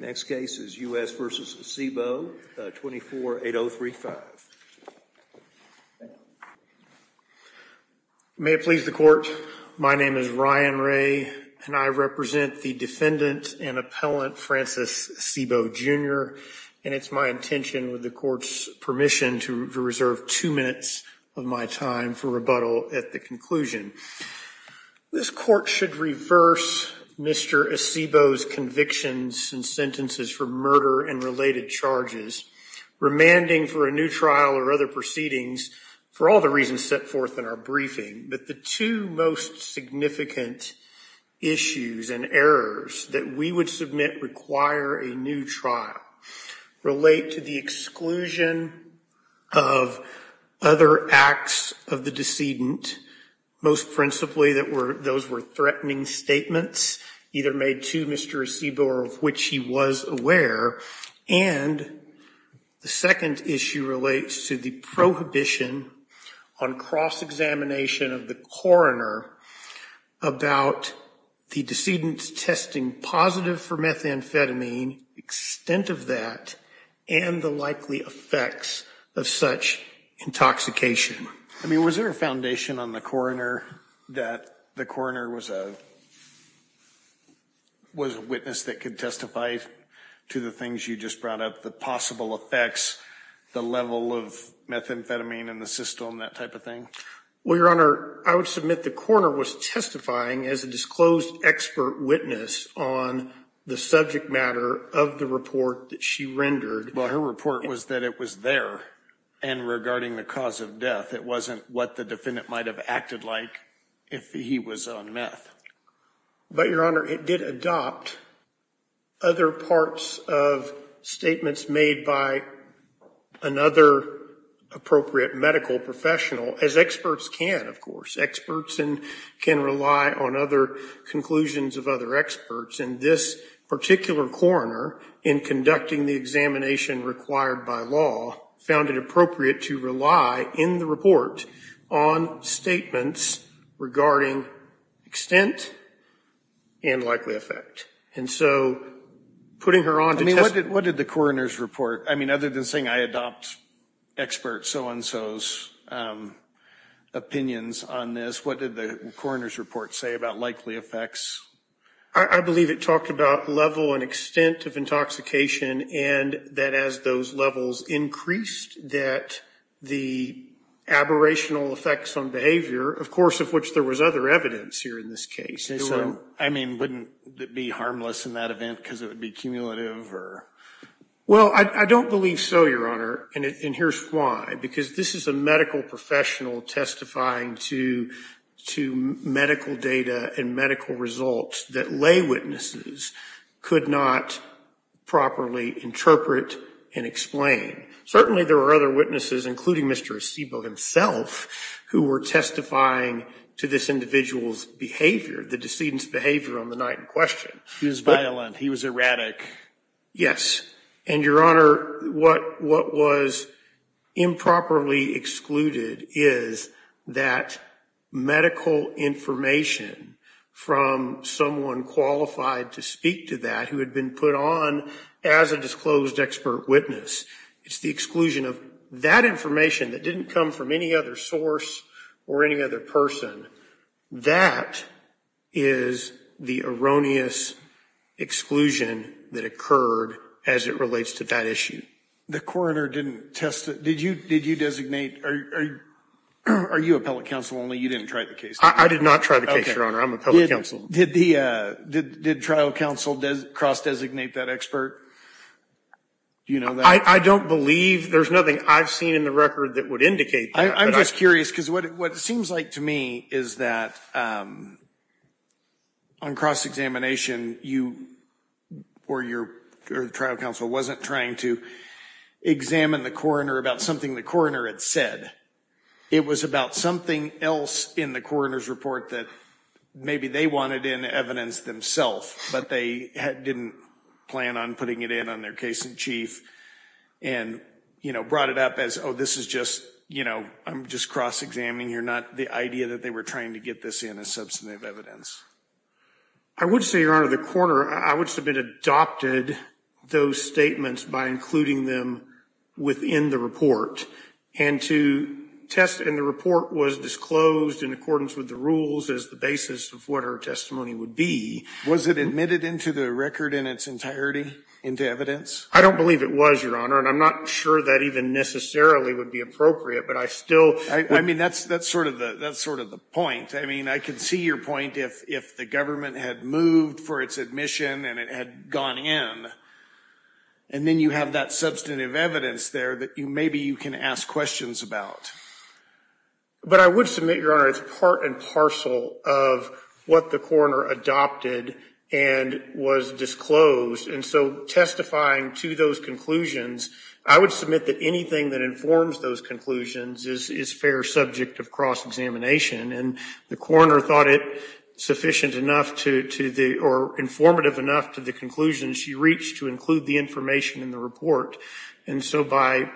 May it please the court, my name is Ryan Ray and I represent the defendant and appellant Francis Acebo, Jr., and it's my intention, with the court's permission, to reserve two minutes of my time for rebuttal at the conclusion. This court should reverse Mr. Acebo's convictions and sentences for murder and related charges, remanding for a new trial or other proceedings for all the reasons set forth in our briefing. But the two most significant issues and errors that we would submit require a new trial relate to the exclusion of other acts of the decedent, most principally those were threatening statements either made to Mr. Acebo or of which he was aware. And the second issue relates to the prohibition on cross-examination of the coroner about the decedent's testing positive for methamphetamine, extent of that, and the likely effects of such intoxication. I mean, was there a foundation on the coroner that the coroner was a witness that could testify to the things you just brought up, the possible effects, the level of methamphetamine in the system, that type of thing? Well, Your Honor, I would submit the coroner was testifying as a disclosed expert witness on the subject matter of the report that she rendered. Well, her report was that it was there and regarding the cause of death. It wasn't what the defendant might have acted like if he was on meth. But, Your Honor, it did adopt other parts of statements made by another appropriate medical professional, as experts can, of course. Extent and likely effect. And so, putting her on to test... I mean, what did the coroner's report, I mean, other than saying I adopt expert so-and-sos' opinions on this, what did the coroner's report say about likely effects? I believe it talked about level and extent of intoxication and that as those levels increased, that the aberrational effects on behavior, of course, of which there was other evidence here in this case... I mean, wouldn't it be harmless in that event because it would be cumulative? Well, I don't believe so, Your Honor, and here's why. Because this is a medical professional testifying to medical data and medical results that lay witnesses could not properly interpret and explain. Certainly, there were other witnesses, including Mr. Acebo himself, who were testifying to this individual's behavior, the decedent's behavior on the night in question. He was violent. He was erratic. And, Your Honor, what was improperly excluded is that medical information from someone qualified to speak to that who had been put on as a disclosed expert witness. It's the exclusion of that information that didn't come from any other source or any other person. That is the erroneous exclusion that occurred as it relates to that issue. The coroner didn't test it. Did you designate... Are you appellate counsel only? You didn't try the case? I did not try the case, Your Honor. I'm appellate counsel. Did trial counsel cross-designate that expert? Do you know that? I don't believe... There's nothing I've seen in the record that would indicate that. I'm just curious because what it seems like to me is that on cross-examination, you or your trial counsel wasn't trying to examine the coroner about something the coroner had said. It was about something else in the coroner's report that maybe they wanted in evidence themselves, but they didn't plan on putting it in on their case-in-chief. And, you know, brought it up as, oh, this is just, you know, I'm just cross-examining here, not the idea that they were trying to get this in as substantive evidence. I would say, Your Honor, the coroner, I would submit, adopted those statements by including them within the report, and to test... And the report was disclosed in accordance with the rules as the basis of what her testimony would be. Was it admitted into the record in its entirety, into evidence? I don't believe it was, Your Honor, and I'm not sure that even necessarily would be appropriate, but I still... I mean, that's sort of the point. I mean, I could see your point if the government had moved for its admission and it had gone in, and then you have that substantive evidence there that maybe you can ask questions about. But I would submit, Your Honor, it's part and parcel of what the coroner adopted and was disclosed. And so testifying to those conclusions, I would submit that anything that informs those conclusions is fair subject of cross-examination. And the coroner thought it sufficient enough to the... or informative enough to the conclusions she reached to include the information in the report. And so by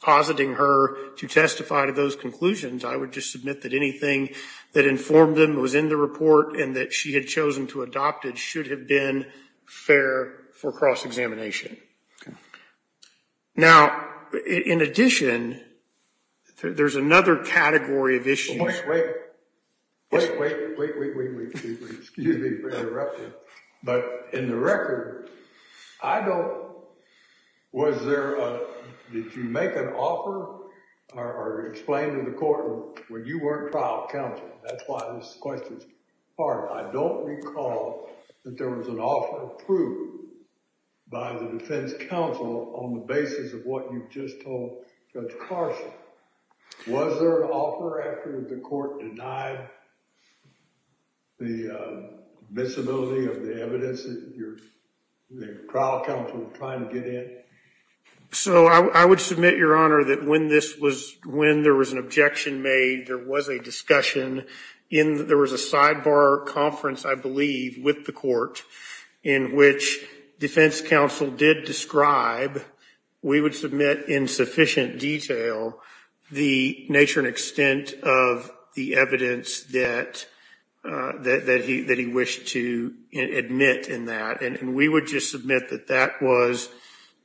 positing her to testify to those conclusions, I would just submit that anything that informed them was in the report and that she had chosen to adopt it should have been fair for cross-examination. Now, in addition, there's another category of issues... Did you make an offer or explain to the court when you weren't trial counsel? That's why this question is hard. I don't recall that there was an offer approved by the defense counsel on the basis of what you've just told Judge Carson. Was there an offer after the court denied the visibility of the evidence that the trial counsel was trying to get in? So I would submit, Your Honor, that when there was an objection made, there was a discussion. There was a sidebar conference, I believe, with the court in which defense counsel did describe, we would submit in sufficient detail, the nature and extent of the evidence that he wished to admit in that. And we would just submit that that was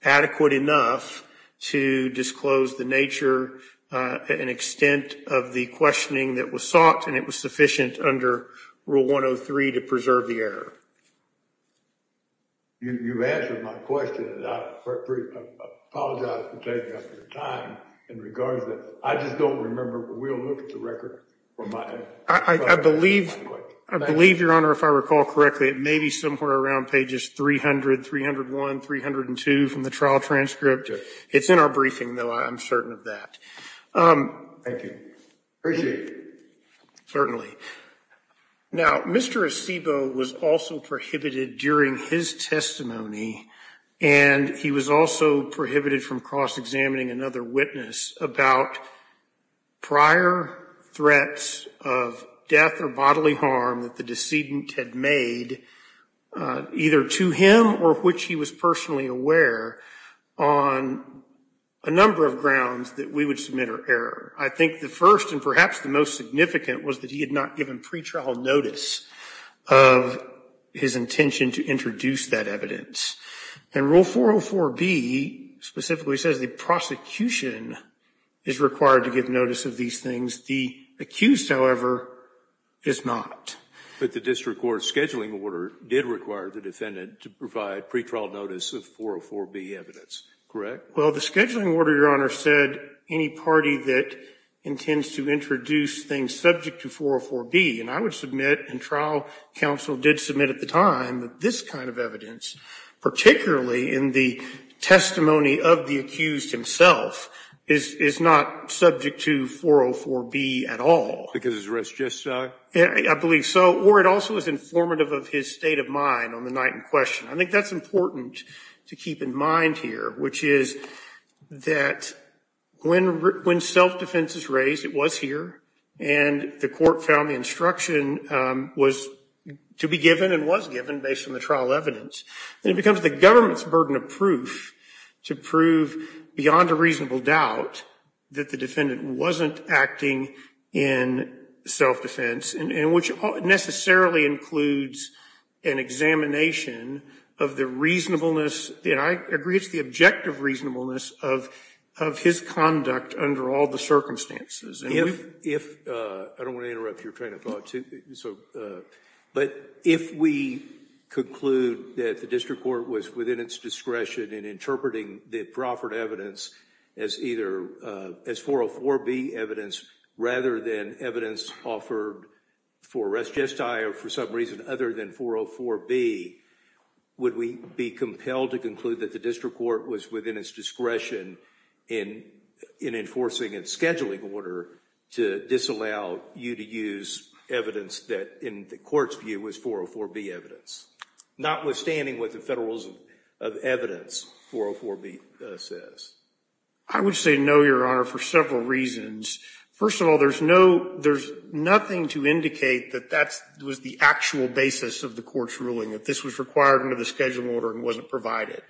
adequate enough to disclose the nature and extent of the questioning that was sought. And it was sufficient under Rule 103 to preserve the error. You've answered my question. I apologize for taking up your time in regards to that. I just don't remember, but we'll look at the record. I believe, Your Honor, if I recall correctly, it may be somewhere around pages 300, 301, 302 from the trial transcript. It's in our briefing, though. I'm certain of that. Thank you. Appreciate it. Certainly. Now, Mr. Acebo was also prohibited during his testimony, and he was also prohibited from cross-examining another witness about prior threats of death or bodily harm that the decedent had made, either to him or which he was personally aware, on a number of grounds that we would submit are error. I think the first and perhaps the most significant was that he had not given pretrial notice of his intention to introduce that evidence. And Rule 404b specifically says the prosecution is required to give notice of these things. The accused, however, is not. But the district court scheduling order did require the defendant to provide pretrial notice of 404b evidence, correct? Well, the scheduling order, Your Honor, said any party that intends to introduce things subject to 404b. And I would submit, and trial counsel did submit at the time, that this kind of evidence, particularly in the testimony of the accused himself, is not subject to 404b at all. Because it's a risk justice? I believe so. Or it also is informative of his state of mind on the night in question. I think that's important to keep in mind here, which is that when self-defense is raised, it was here, and the court found the instruction was to be given and was given based on the trial evidence. And it becomes the government's burden of proof to prove beyond a reasonable doubt that the defendant wasn't acting in self-defense, and which necessarily includes an examination of the reasonableness. And I agree it's the objective reasonableness of his conduct under all the circumstances. I don't want to interrupt your train of thought. But if we conclude that the district court was within its discretion in interpreting the offered evidence as either, as 404b evidence, rather than evidence offered for res gestae or for some reason other than 404b, would we be compelled to conclude that the district court was within its discretion in enforcing its scheduling order to disallow you to use evidence that, in the court's view, was 404b evidence? Notwithstanding what the Federalism of Evidence, 404b, says. I would say no, Your Honor, for several reasons. First of all, there's nothing to indicate that that was the actual basis of the court's ruling, that this was required under the scheduling order and wasn't provided.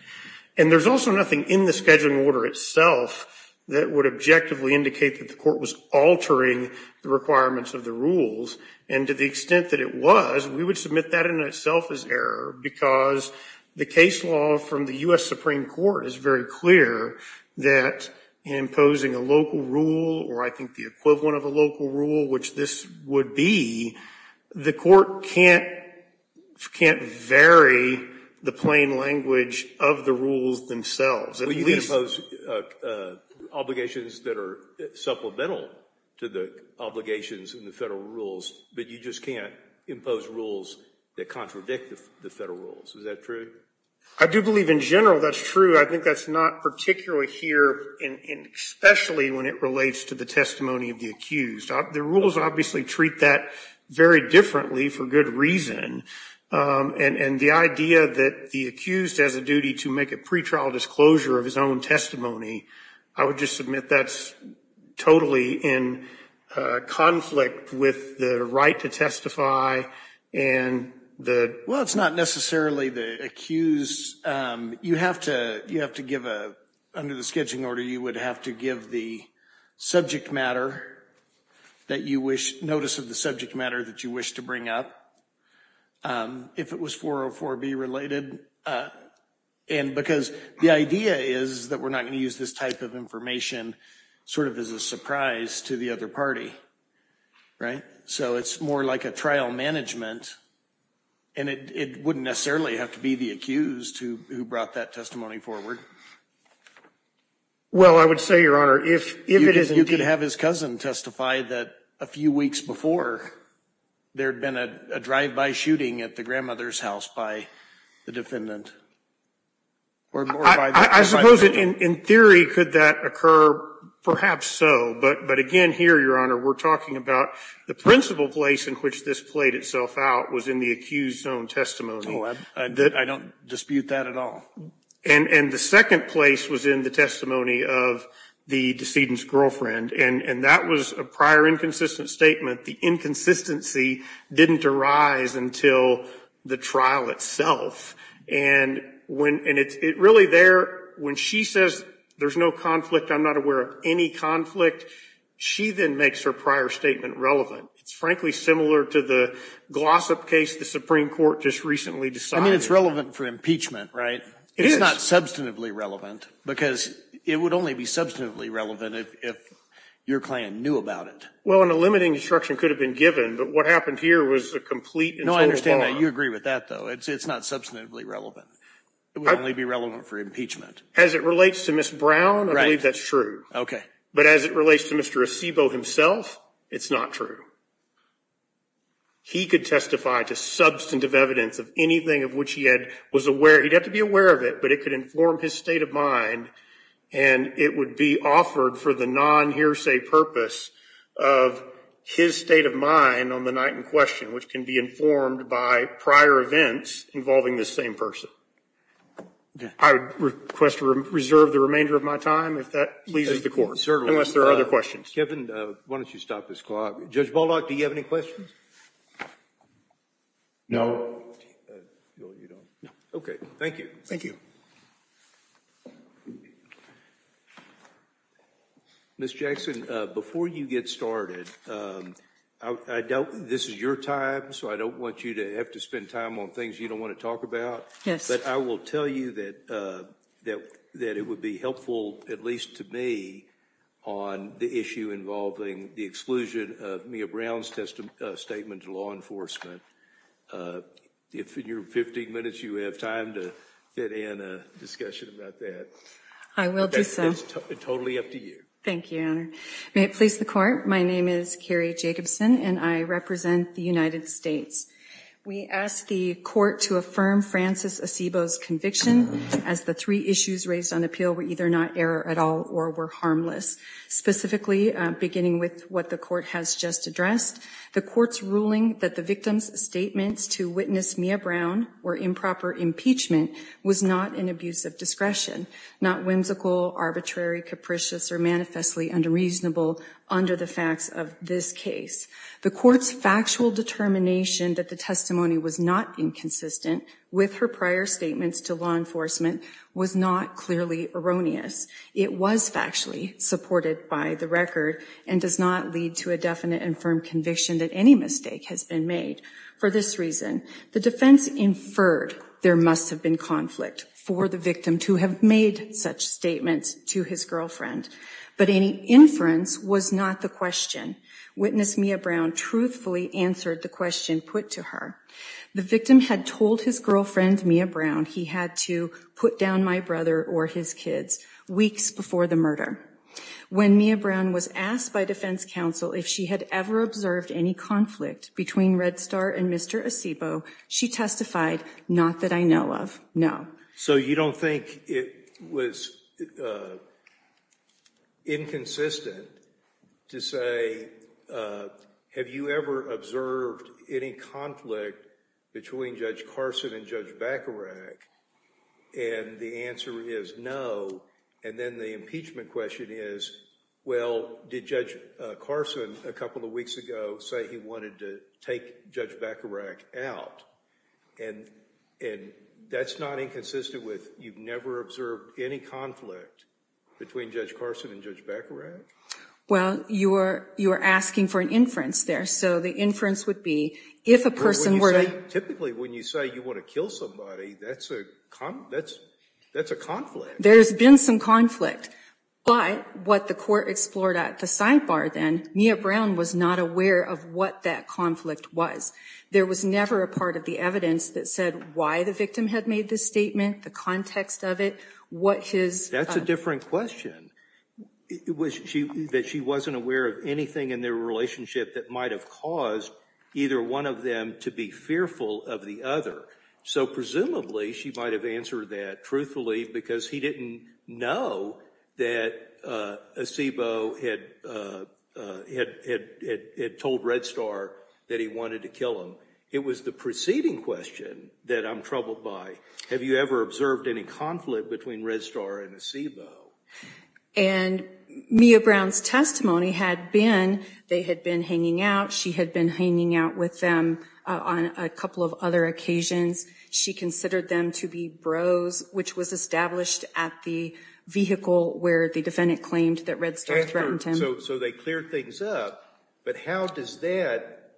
And there's also nothing in the scheduling order itself that would objectively indicate that the court was altering the requirements of the rules. And to the extent that it was, we would submit that in itself as error. Because the case law from the U.S. Supreme Court is very clear that imposing a local rule, or I think the equivalent of a local rule, which this would be, the court can't vary the plain language of the rules themselves. But you can impose obligations that are supplemental to the obligations in the Federal rules, but you just can't impose rules that contradict the Federal rules. Is that true? I do believe in general that's true. I think that's not particularly here, especially when it relates to the testimony of the accused. The rules obviously treat that very differently for good reason. And the idea that the accused has a duty to make a pretrial disclosure of his own testimony, I would just submit that's totally in conflict with the right to testify. Well, it's not necessarily the accused. You have to give, under the scheduling order, you would have to give the subject matter that you wish, notice of the subject matter that you wish to bring up, if it was 404B related. And because the idea is that we're not going to use this type of information sort of as a surprise to the other party. Right? So it's more like a trial management, and it wouldn't necessarily have to be the accused who brought that testimony forward. Well, I would say, Your Honor, if it is indeed… You could have his cousin testify that a few weeks before, there had been a drive-by shooting at the grandmother's house by the defendant. I suppose in theory, could that occur? Perhaps so. But again, here, Your Honor, we're talking about the principal place in which this played itself out was in the accused's own testimony. I don't dispute that at all. And the second place was in the testimony of the decedent's girlfriend. And that was a prior inconsistent statement. The inconsistency didn't arise until the trial itself. And when it's really there, when she says there's no conflict, I'm not aware of any conflict, she then makes her prior statement relevant. It's frankly similar to the gloss up case the Supreme Court just recently decided. I mean, it's relevant for impeachment, right? It is. It's not substantively relevant, because it would only be substantively relevant if your client knew about it. Well, and a limiting instruction could have been given. But what happened here was a complete and total lie. No, I understand that. You agree with that, though. It's not substantively relevant. It would only be relevant for impeachment. As it relates to Ms. Brown, I believe that's true. But as it relates to Mr. Acebo himself, it's not true. He could testify to substantive evidence of anything of which he was aware. He'd have to be aware of it, but it could inform his state of mind. And it would be offered for the non-hearsay purpose of his state of mind on the night in question, which can be informed by prior events involving this same person. I would request to reserve the remainder of my time if that pleases the Court. Certainly. Unless there are other questions. Kevin, why don't you stop this clock? Judge Baldock, do you have any questions? No. No, you don't. Okay, thank you. Thank you. Ms. Jackson, before you get started, this is your time, so I don't want you to have to spend time on things you don't want to talk about. Yes. But I will tell you that it would be helpful, at least to me, on the issue involving the exclusion of Mia Brown's statement to law enforcement. If in your 15 minutes you have time to fit in a discussion about that. I will do so. It's totally up to you. Thank you, Your Honor. May it please the Court, my name is Carrie Jacobson, and I represent the United States. We ask the Court to affirm Francis Acebo's conviction as the three issues raised on appeal were either not error at all or were harmless. Specifically, beginning with what the Court has just addressed, the Court's ruling that the victim's statements to witness Mia Brown were improper impeachment was not an abuse of discretion, not whimsical, arbitrary, capricious, or manifestly unreasonable under the facts of this case. The Court's factual determination that the testimony was not inconsistent with her prior statements to law enforcement was not clearly erroneous. It was factually supported by the record and does not lead to a definite and firm conviction that any mistake has been made. For this reason, the defense inferred there must have been conflict for the victim to have made such statements to his girlfriend. But any inference was not the question. Witness Mia Brown truthfully answered the question put to her. The victim had told his girlfriend, Mia Brown, he had to put down my brother or his kids weeks before the murder. When Mia Brown was asked by defense counsel if she had ever observed any conflict between Red Star and Mr. Acebo, she testified, not that I know of, no. So you don't think it was inconsistent to say, have you ever observed any conflict between Judge Carson and Judge Bacharach? And the answer is no. And then the impeachment question is, well, did Judge Carson a couple of weeks ago say he wanted to take Judge Bacharach out? And that's not inconsistent with you've never observed any conflict between Judge Carson and Judge Bacharach? Well, you are asking for an inference there. So the inference would be, if a person were to— Typically, when you say you want to kill somebody, that's a conflict. There's been some conflict. But what the court explored at the sidebar then, Mia Brown was not aware of what that conflict was. There was never a part of the evidence that said why the victim had made this statement, the context of it, what his— That's a different question. That she wasn't aware of anything in their relationship that might have caused either one of them to be fearful of the other. So presumably she might have answered that truthfully because he didn't know that Acebo had told Red Star that he wanted to kill him. It was the preceding question that I'm troubled by. Have you ever observed any conflict between Red Star and Acebo? And Mia Brown's testimony had been they had been hanging out. She had been hanging out with them on a couple of other occasions. She considered them to be bros, which was established at the vehicle where the defendant claimed that Red Star threatened him. So they cleared things up. But how does that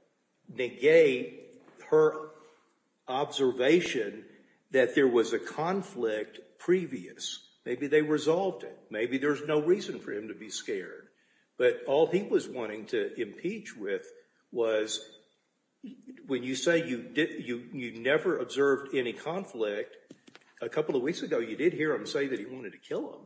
negate her observation that there was a conflict previous? Maybe they resolved it. Maybe there's no reason for him to be scared. But all he was wanting to impeach with was when you say you never observed any conflict, a couple of weeks ago you did hear him say that he wanted to kill him.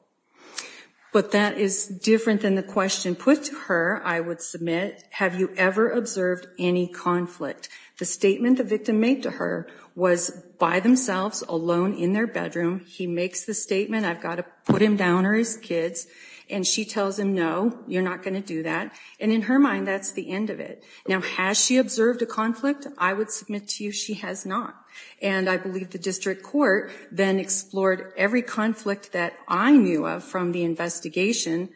But that is different than the question put to her, I would submit. Have you ever observed any conflict? The statement the victim made to her was by themselves, alone in their bedroom. He makes the statement, I've got to put him down or his kids. And she tells him no, you're not going to do that. And in her mind that's the end of it. Now has she observed a conflict? I would submit to you she has not. And I believe the district court then explored every conflict that I knew of from the investigation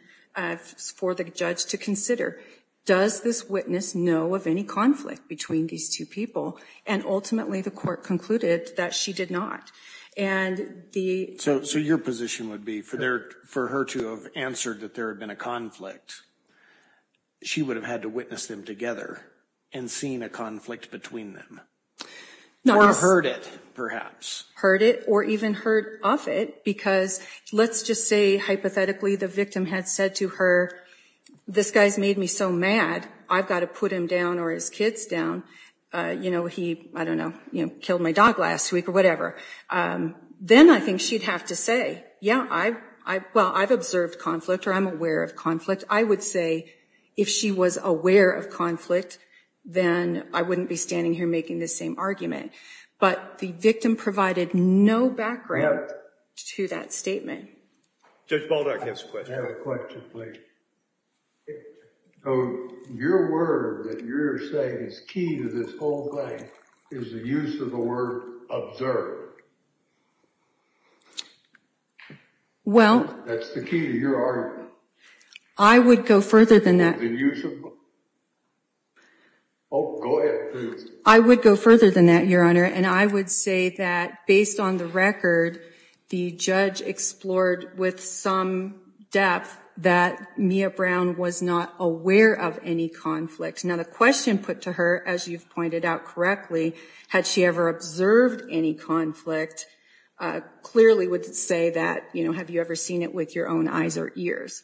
for the judge to consider. Does this witness know of any conflict between these two people? And ultimately the court concluded that she did not. So your position would be for her to have answered that there had been a conflict, she would have had to witness them together and seen a conflict between them. Or heard it, perhaps. Heard it or even heard of it because let's just say hypothetically the victim had said to her, this guy's made me so mad, I've got to put him down or his kids down. He, I don't know, killed my dog last week or whatever. Then I think she'd have to say, yeah, well, I've observed conflict or I'm aware of conflict. I would say if she was aware of conflict, then I wouldn't be standing here making this same argument. But the victim provided no background to that statement. Judge Baldock has a question. I have a question, please. Your word that you're saying is key to this whole thing is the use of the word observed. Well. That's the key to your argument. I would go further than that. The use of. Oh, go ahead, please. I would go further than that, Your Honor. And I would say that based on the record, the judge explored with some depth that Mia Brown was not aware of any conflict. Now, the question put to her, as you've pointed out correctly, had she ever observed any conflict, clearly would say that, you know, have you ever seen it with your own eyes or ears?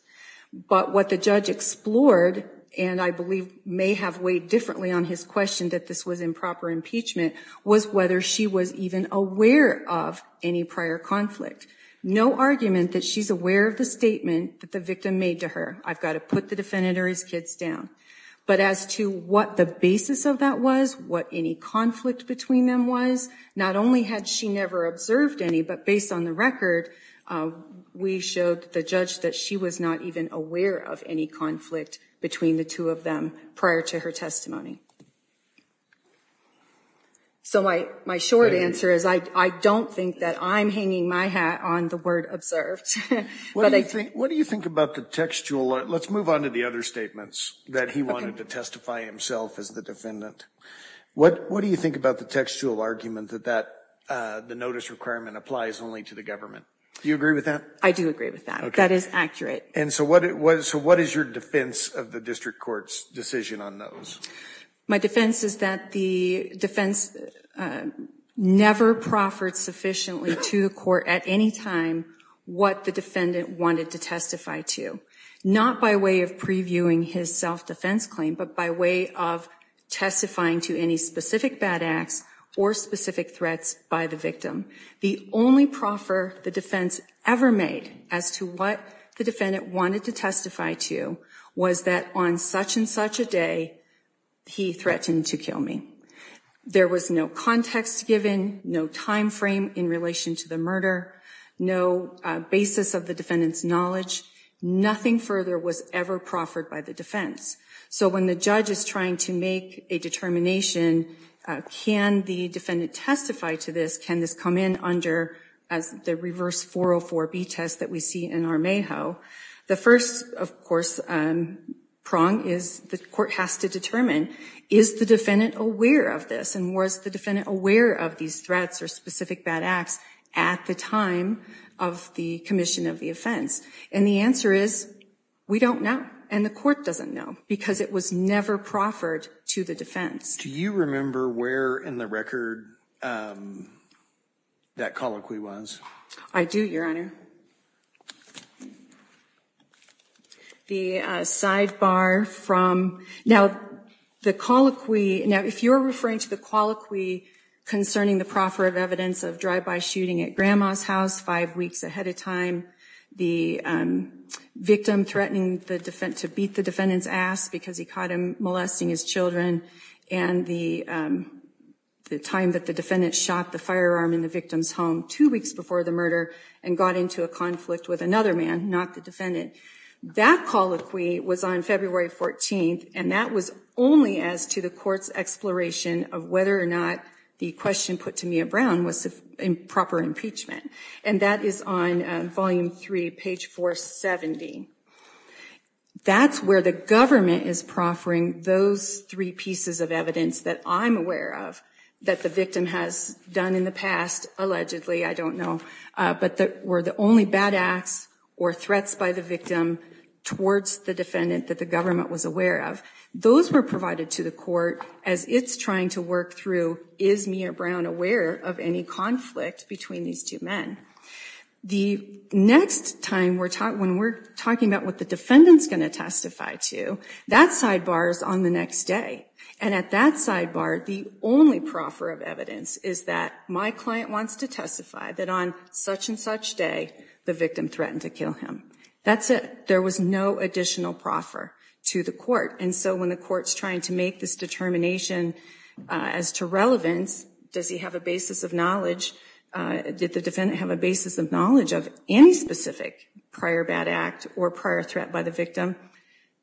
But what the judge explored, and I believe may have weighed differently on his question that this was improper impeachment, was whether she was even aware of any prior conflict. No argument that she's aware of the statement that the victim made to her. I've got to put the defendant or his kids down. But as to what the basis of that was, what any conflict between them was, not only had she never observed any, but based on the record, we showed the judge that she was not even aware of any conflict between the two of them prior to her testimony. So my short answer is I don't think that I'm hanging my hat on the word observed. What do you think about the textual? Let's move on to the other statements that he wanted to testify himself as the defendant. What do you think about the textual argument that the notice requirement applies only to the government? Do you agree with that? I do agree with that. That is accurate. And so what is your defense of the district court's decision on those? My defense is that the defense never proffered sufficiently to the court at any time what the defendant wanted to testify to, not by way of previewing his self-defense claim, but by way of testifying to any specific bad acts or specific threats by the victim. The only proffer the defense ever made as to what the defendant wanted to testify to was that on such and such a day, he threatened to kill me. There was no context given, no time frame in relation to the murder, no basis of the defendant's knowledge. Nothing further was ever proffered by the defense. So when the judge is trying to make a determination, can the defendant testify to this? Can this come in under the reverse 404B test that we see in our MAHO? The first, of course, prong is the court has to determine, is the defendant aware of this? And was the defendant aware of these threats or specific bad acts at the time of the commission of the offense? And the answer is, we don't know. And the court doesn't know, because it was never proffered to the defense. Do you remember where in the record that colloquy was? I do, Your Honor. The sidebar from, now the colloquy, now if you're referring to the colloquy concerning the proffer of evidence of drive-by shooting at grandma's house five weeks ahead of time, the victim threatening to beat the defendant's ass because he caught him molesting his children, and the time that the defendant shot the firearm in the victim's home two weeks before the murder and got into a conflict with another man, not the defendant. That colloquy was on February 14th, and that was only as to the court's exploration of whether or not the question put to Mia Brown was proper impeachment. And that is on volume three, page 470. That's where the government is proffering those three pieces of evidence that I'm aware of that the victim has done in the past, allegedly, I don't know, but were the only bad acts or threats by the victim towards the defendant that the government was aware of. Those were provided to the court as it's trying to work through, is Mia Brown aware of any conflict between these two men? The next time when we're talking about what the defendant's going to testify to, that sidebar is on the next day. And at that sidebar, the only proffer of evidence is that my client wants to testify that on such and such day, the victim threatened to kill him. That's it. There was no additional proffer to the court. And so when the court's trying to make this determination as to relevance, does he have a basis of knowledge? Did the defendant have a basis of knowledge of any specific prior bad act or prior threat by the victim?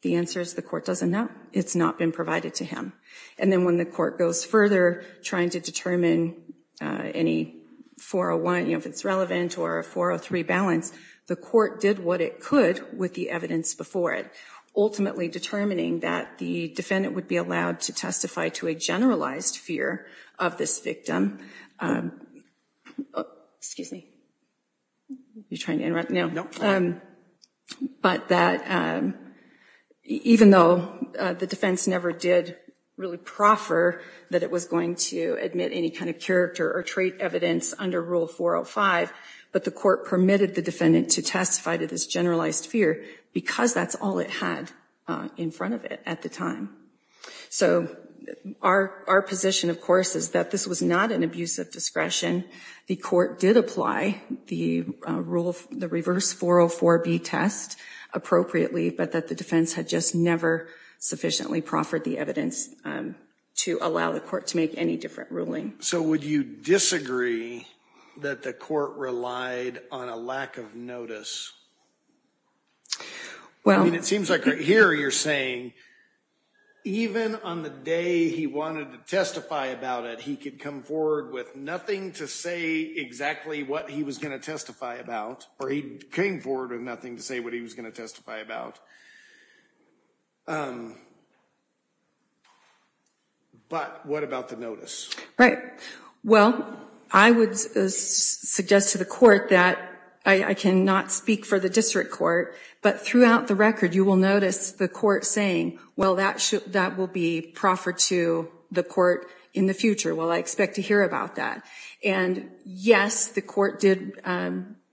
The answer is the court doesn't know. It's not been provided to him. And then when the court goes further, trying to determine any 401 if it's relevant or a 403 balance, the court did what it could with the evidence before it, ultimately determining that the defendant would be allowed to testify to a generalized fear of this victim. Excuse me. You're trying to interrupt now. But that even though the defense never did really proffer that it was going to admit any kind of character or trait evidence under Rule 405, but the court permitted the defendant to testify to this generalized fear because that's all it had in front of it at the time. So our position, of course, is that this was not an abuse of discretion. The court did apply the reverse 404B test appropriately, but that the defense had just never sufficiently proffered the evidence to allow the court to make any different ruling. So would you disagree that the court relied on a lack of notice? Well, it seems like here you're saying even on the day he wanted to testify about it, he could come forward with nothing to say exactly what he was going to testify about, or he came forward with nothing to say what he was going to testify about. But what about the notice? Right. Well, I would suggest to the court that I cannot speak for the district court, but throughout the record you will notice the court saying, well, that will be proffered to the court in the future. Well, I expect to hear about that. And yes, the court did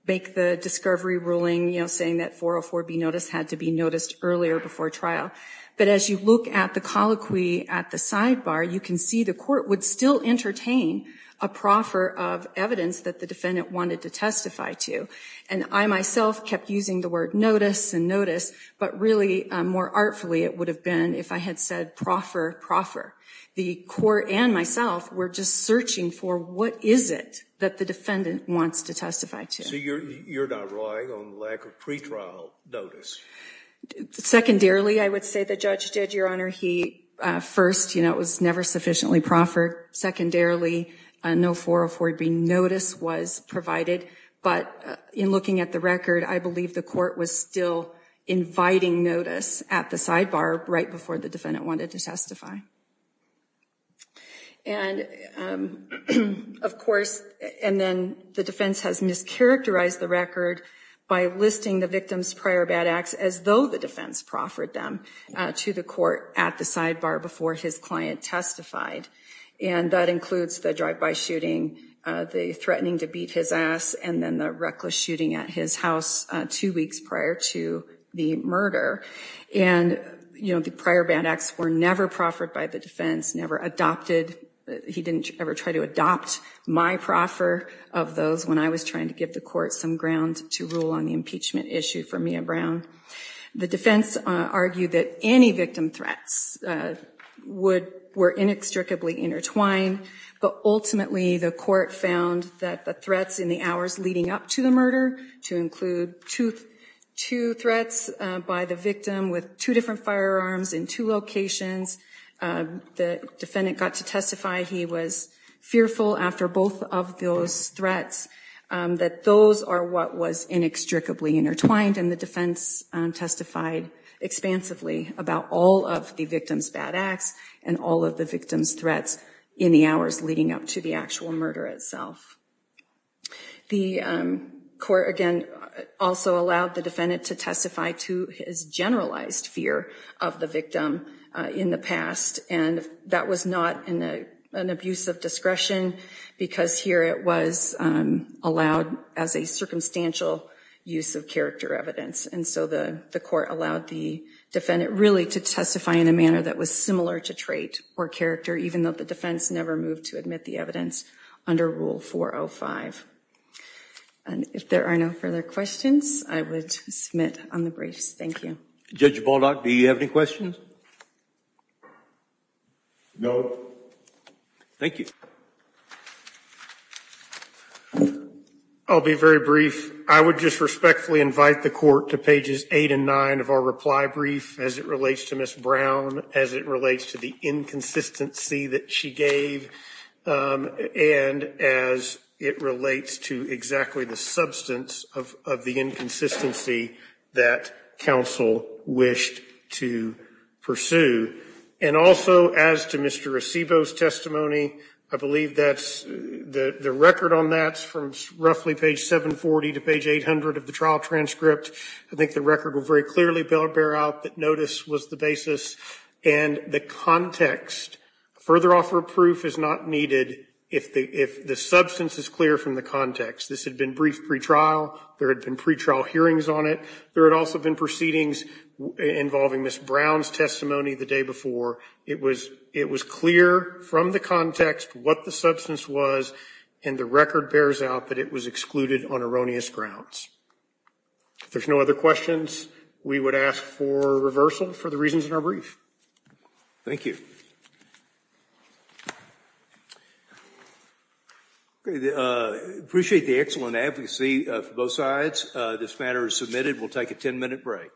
make the discovery ruling, you know, saying that 404B notice had to be noticed earlier before trial. But as you look at the colloquy at the sidebar, you can see the court would still entertain a proffer of evidence that the defendant wanted to testify to. And I myself kept using the word notice and notice, but really more artfully it would have been if I had said proffer, proffer. The court and myself were just searching for what is it that the defendant wants to testify to. So you're not relying on lack of pretrial notice? Secondarily, I would say the judge did, Your Honor. He first, you know, it was never sufficiently proffered. Secondarily, no 404B notice was provided. But in looking at the record, I believe the court was still inviting notice at the sidebar right before the defendant wanted to testify. And, of course, and then the defense has mischaracterized the record by listing the victim's prior bad acts as though the defense proffered them to the court at the sidebar before his client testified. And that includes the drive-by shooting, the threatening to beat his ass, and then the reckless shooting at his house two weeks prior to the murder. And, you know, the prior bad acts were never proffered by the defense, never adopted. He didn't ever try to adopt my proffer of those when I was trying to give the court some ground to rule on the impeachment issue for Mia Brown. The defense argued that any victim threats were inextricably intertwined. But ultimately, the court found that the threats in the hours leading up to the murder, to include two threats by the victim with two different firearms in two locations, the defendant got to testify. He was fearful after both of those threats that those are what was inextricably intertwined. And the defense testified expansively about all of the victim's bad acts and all of the victim's threats in the hours leading up to the actual murder itself. The court, again, also allowed the defendant to testify to his generalized fear of the victim in the past. And that was not an abuse of discretion because here it was allowed as a circumstantial use of character evidence. And so the court allowed the defendant really to testify in a manner that was similar to trait or character, even though the defense never moved to admit the evidence under Rule 405. And if there are no further questions, I would submit on the briefs. Thank you. Judge Baldock, do you have any questions? No. Thank you. I'll be very brief. I would just respectfully invite the court to pages 8 and 9 of our reply brief as it relates to Ms. Brown, as it relates to the inconsistency that she gave, and as it relates to exactly the substance of the inconsistency that counsel wished to pursue. And also, as to Mr. Acebo's testimony, I believe the record on that is from roughly page 740 to page 800 of the trial transcript. I think the record will very clearly bear out that notice was the basis. And the context, further offer of proof is not needed if the substance is clear from the context. This had been brief pretrial. There had been pretrial hearings on it. There had also been proceedings involving Ms. Brown's testimony the day before. It was clear from the context what the substance was, and the record bears out that it was excluded on erroneous grounds. If there's no other questions, we would ask for reversal for the reasons in our brief. Thank you. I appreciate the excellent advocacy from both sides. This matter is submitted. We'll take a ten-minute break.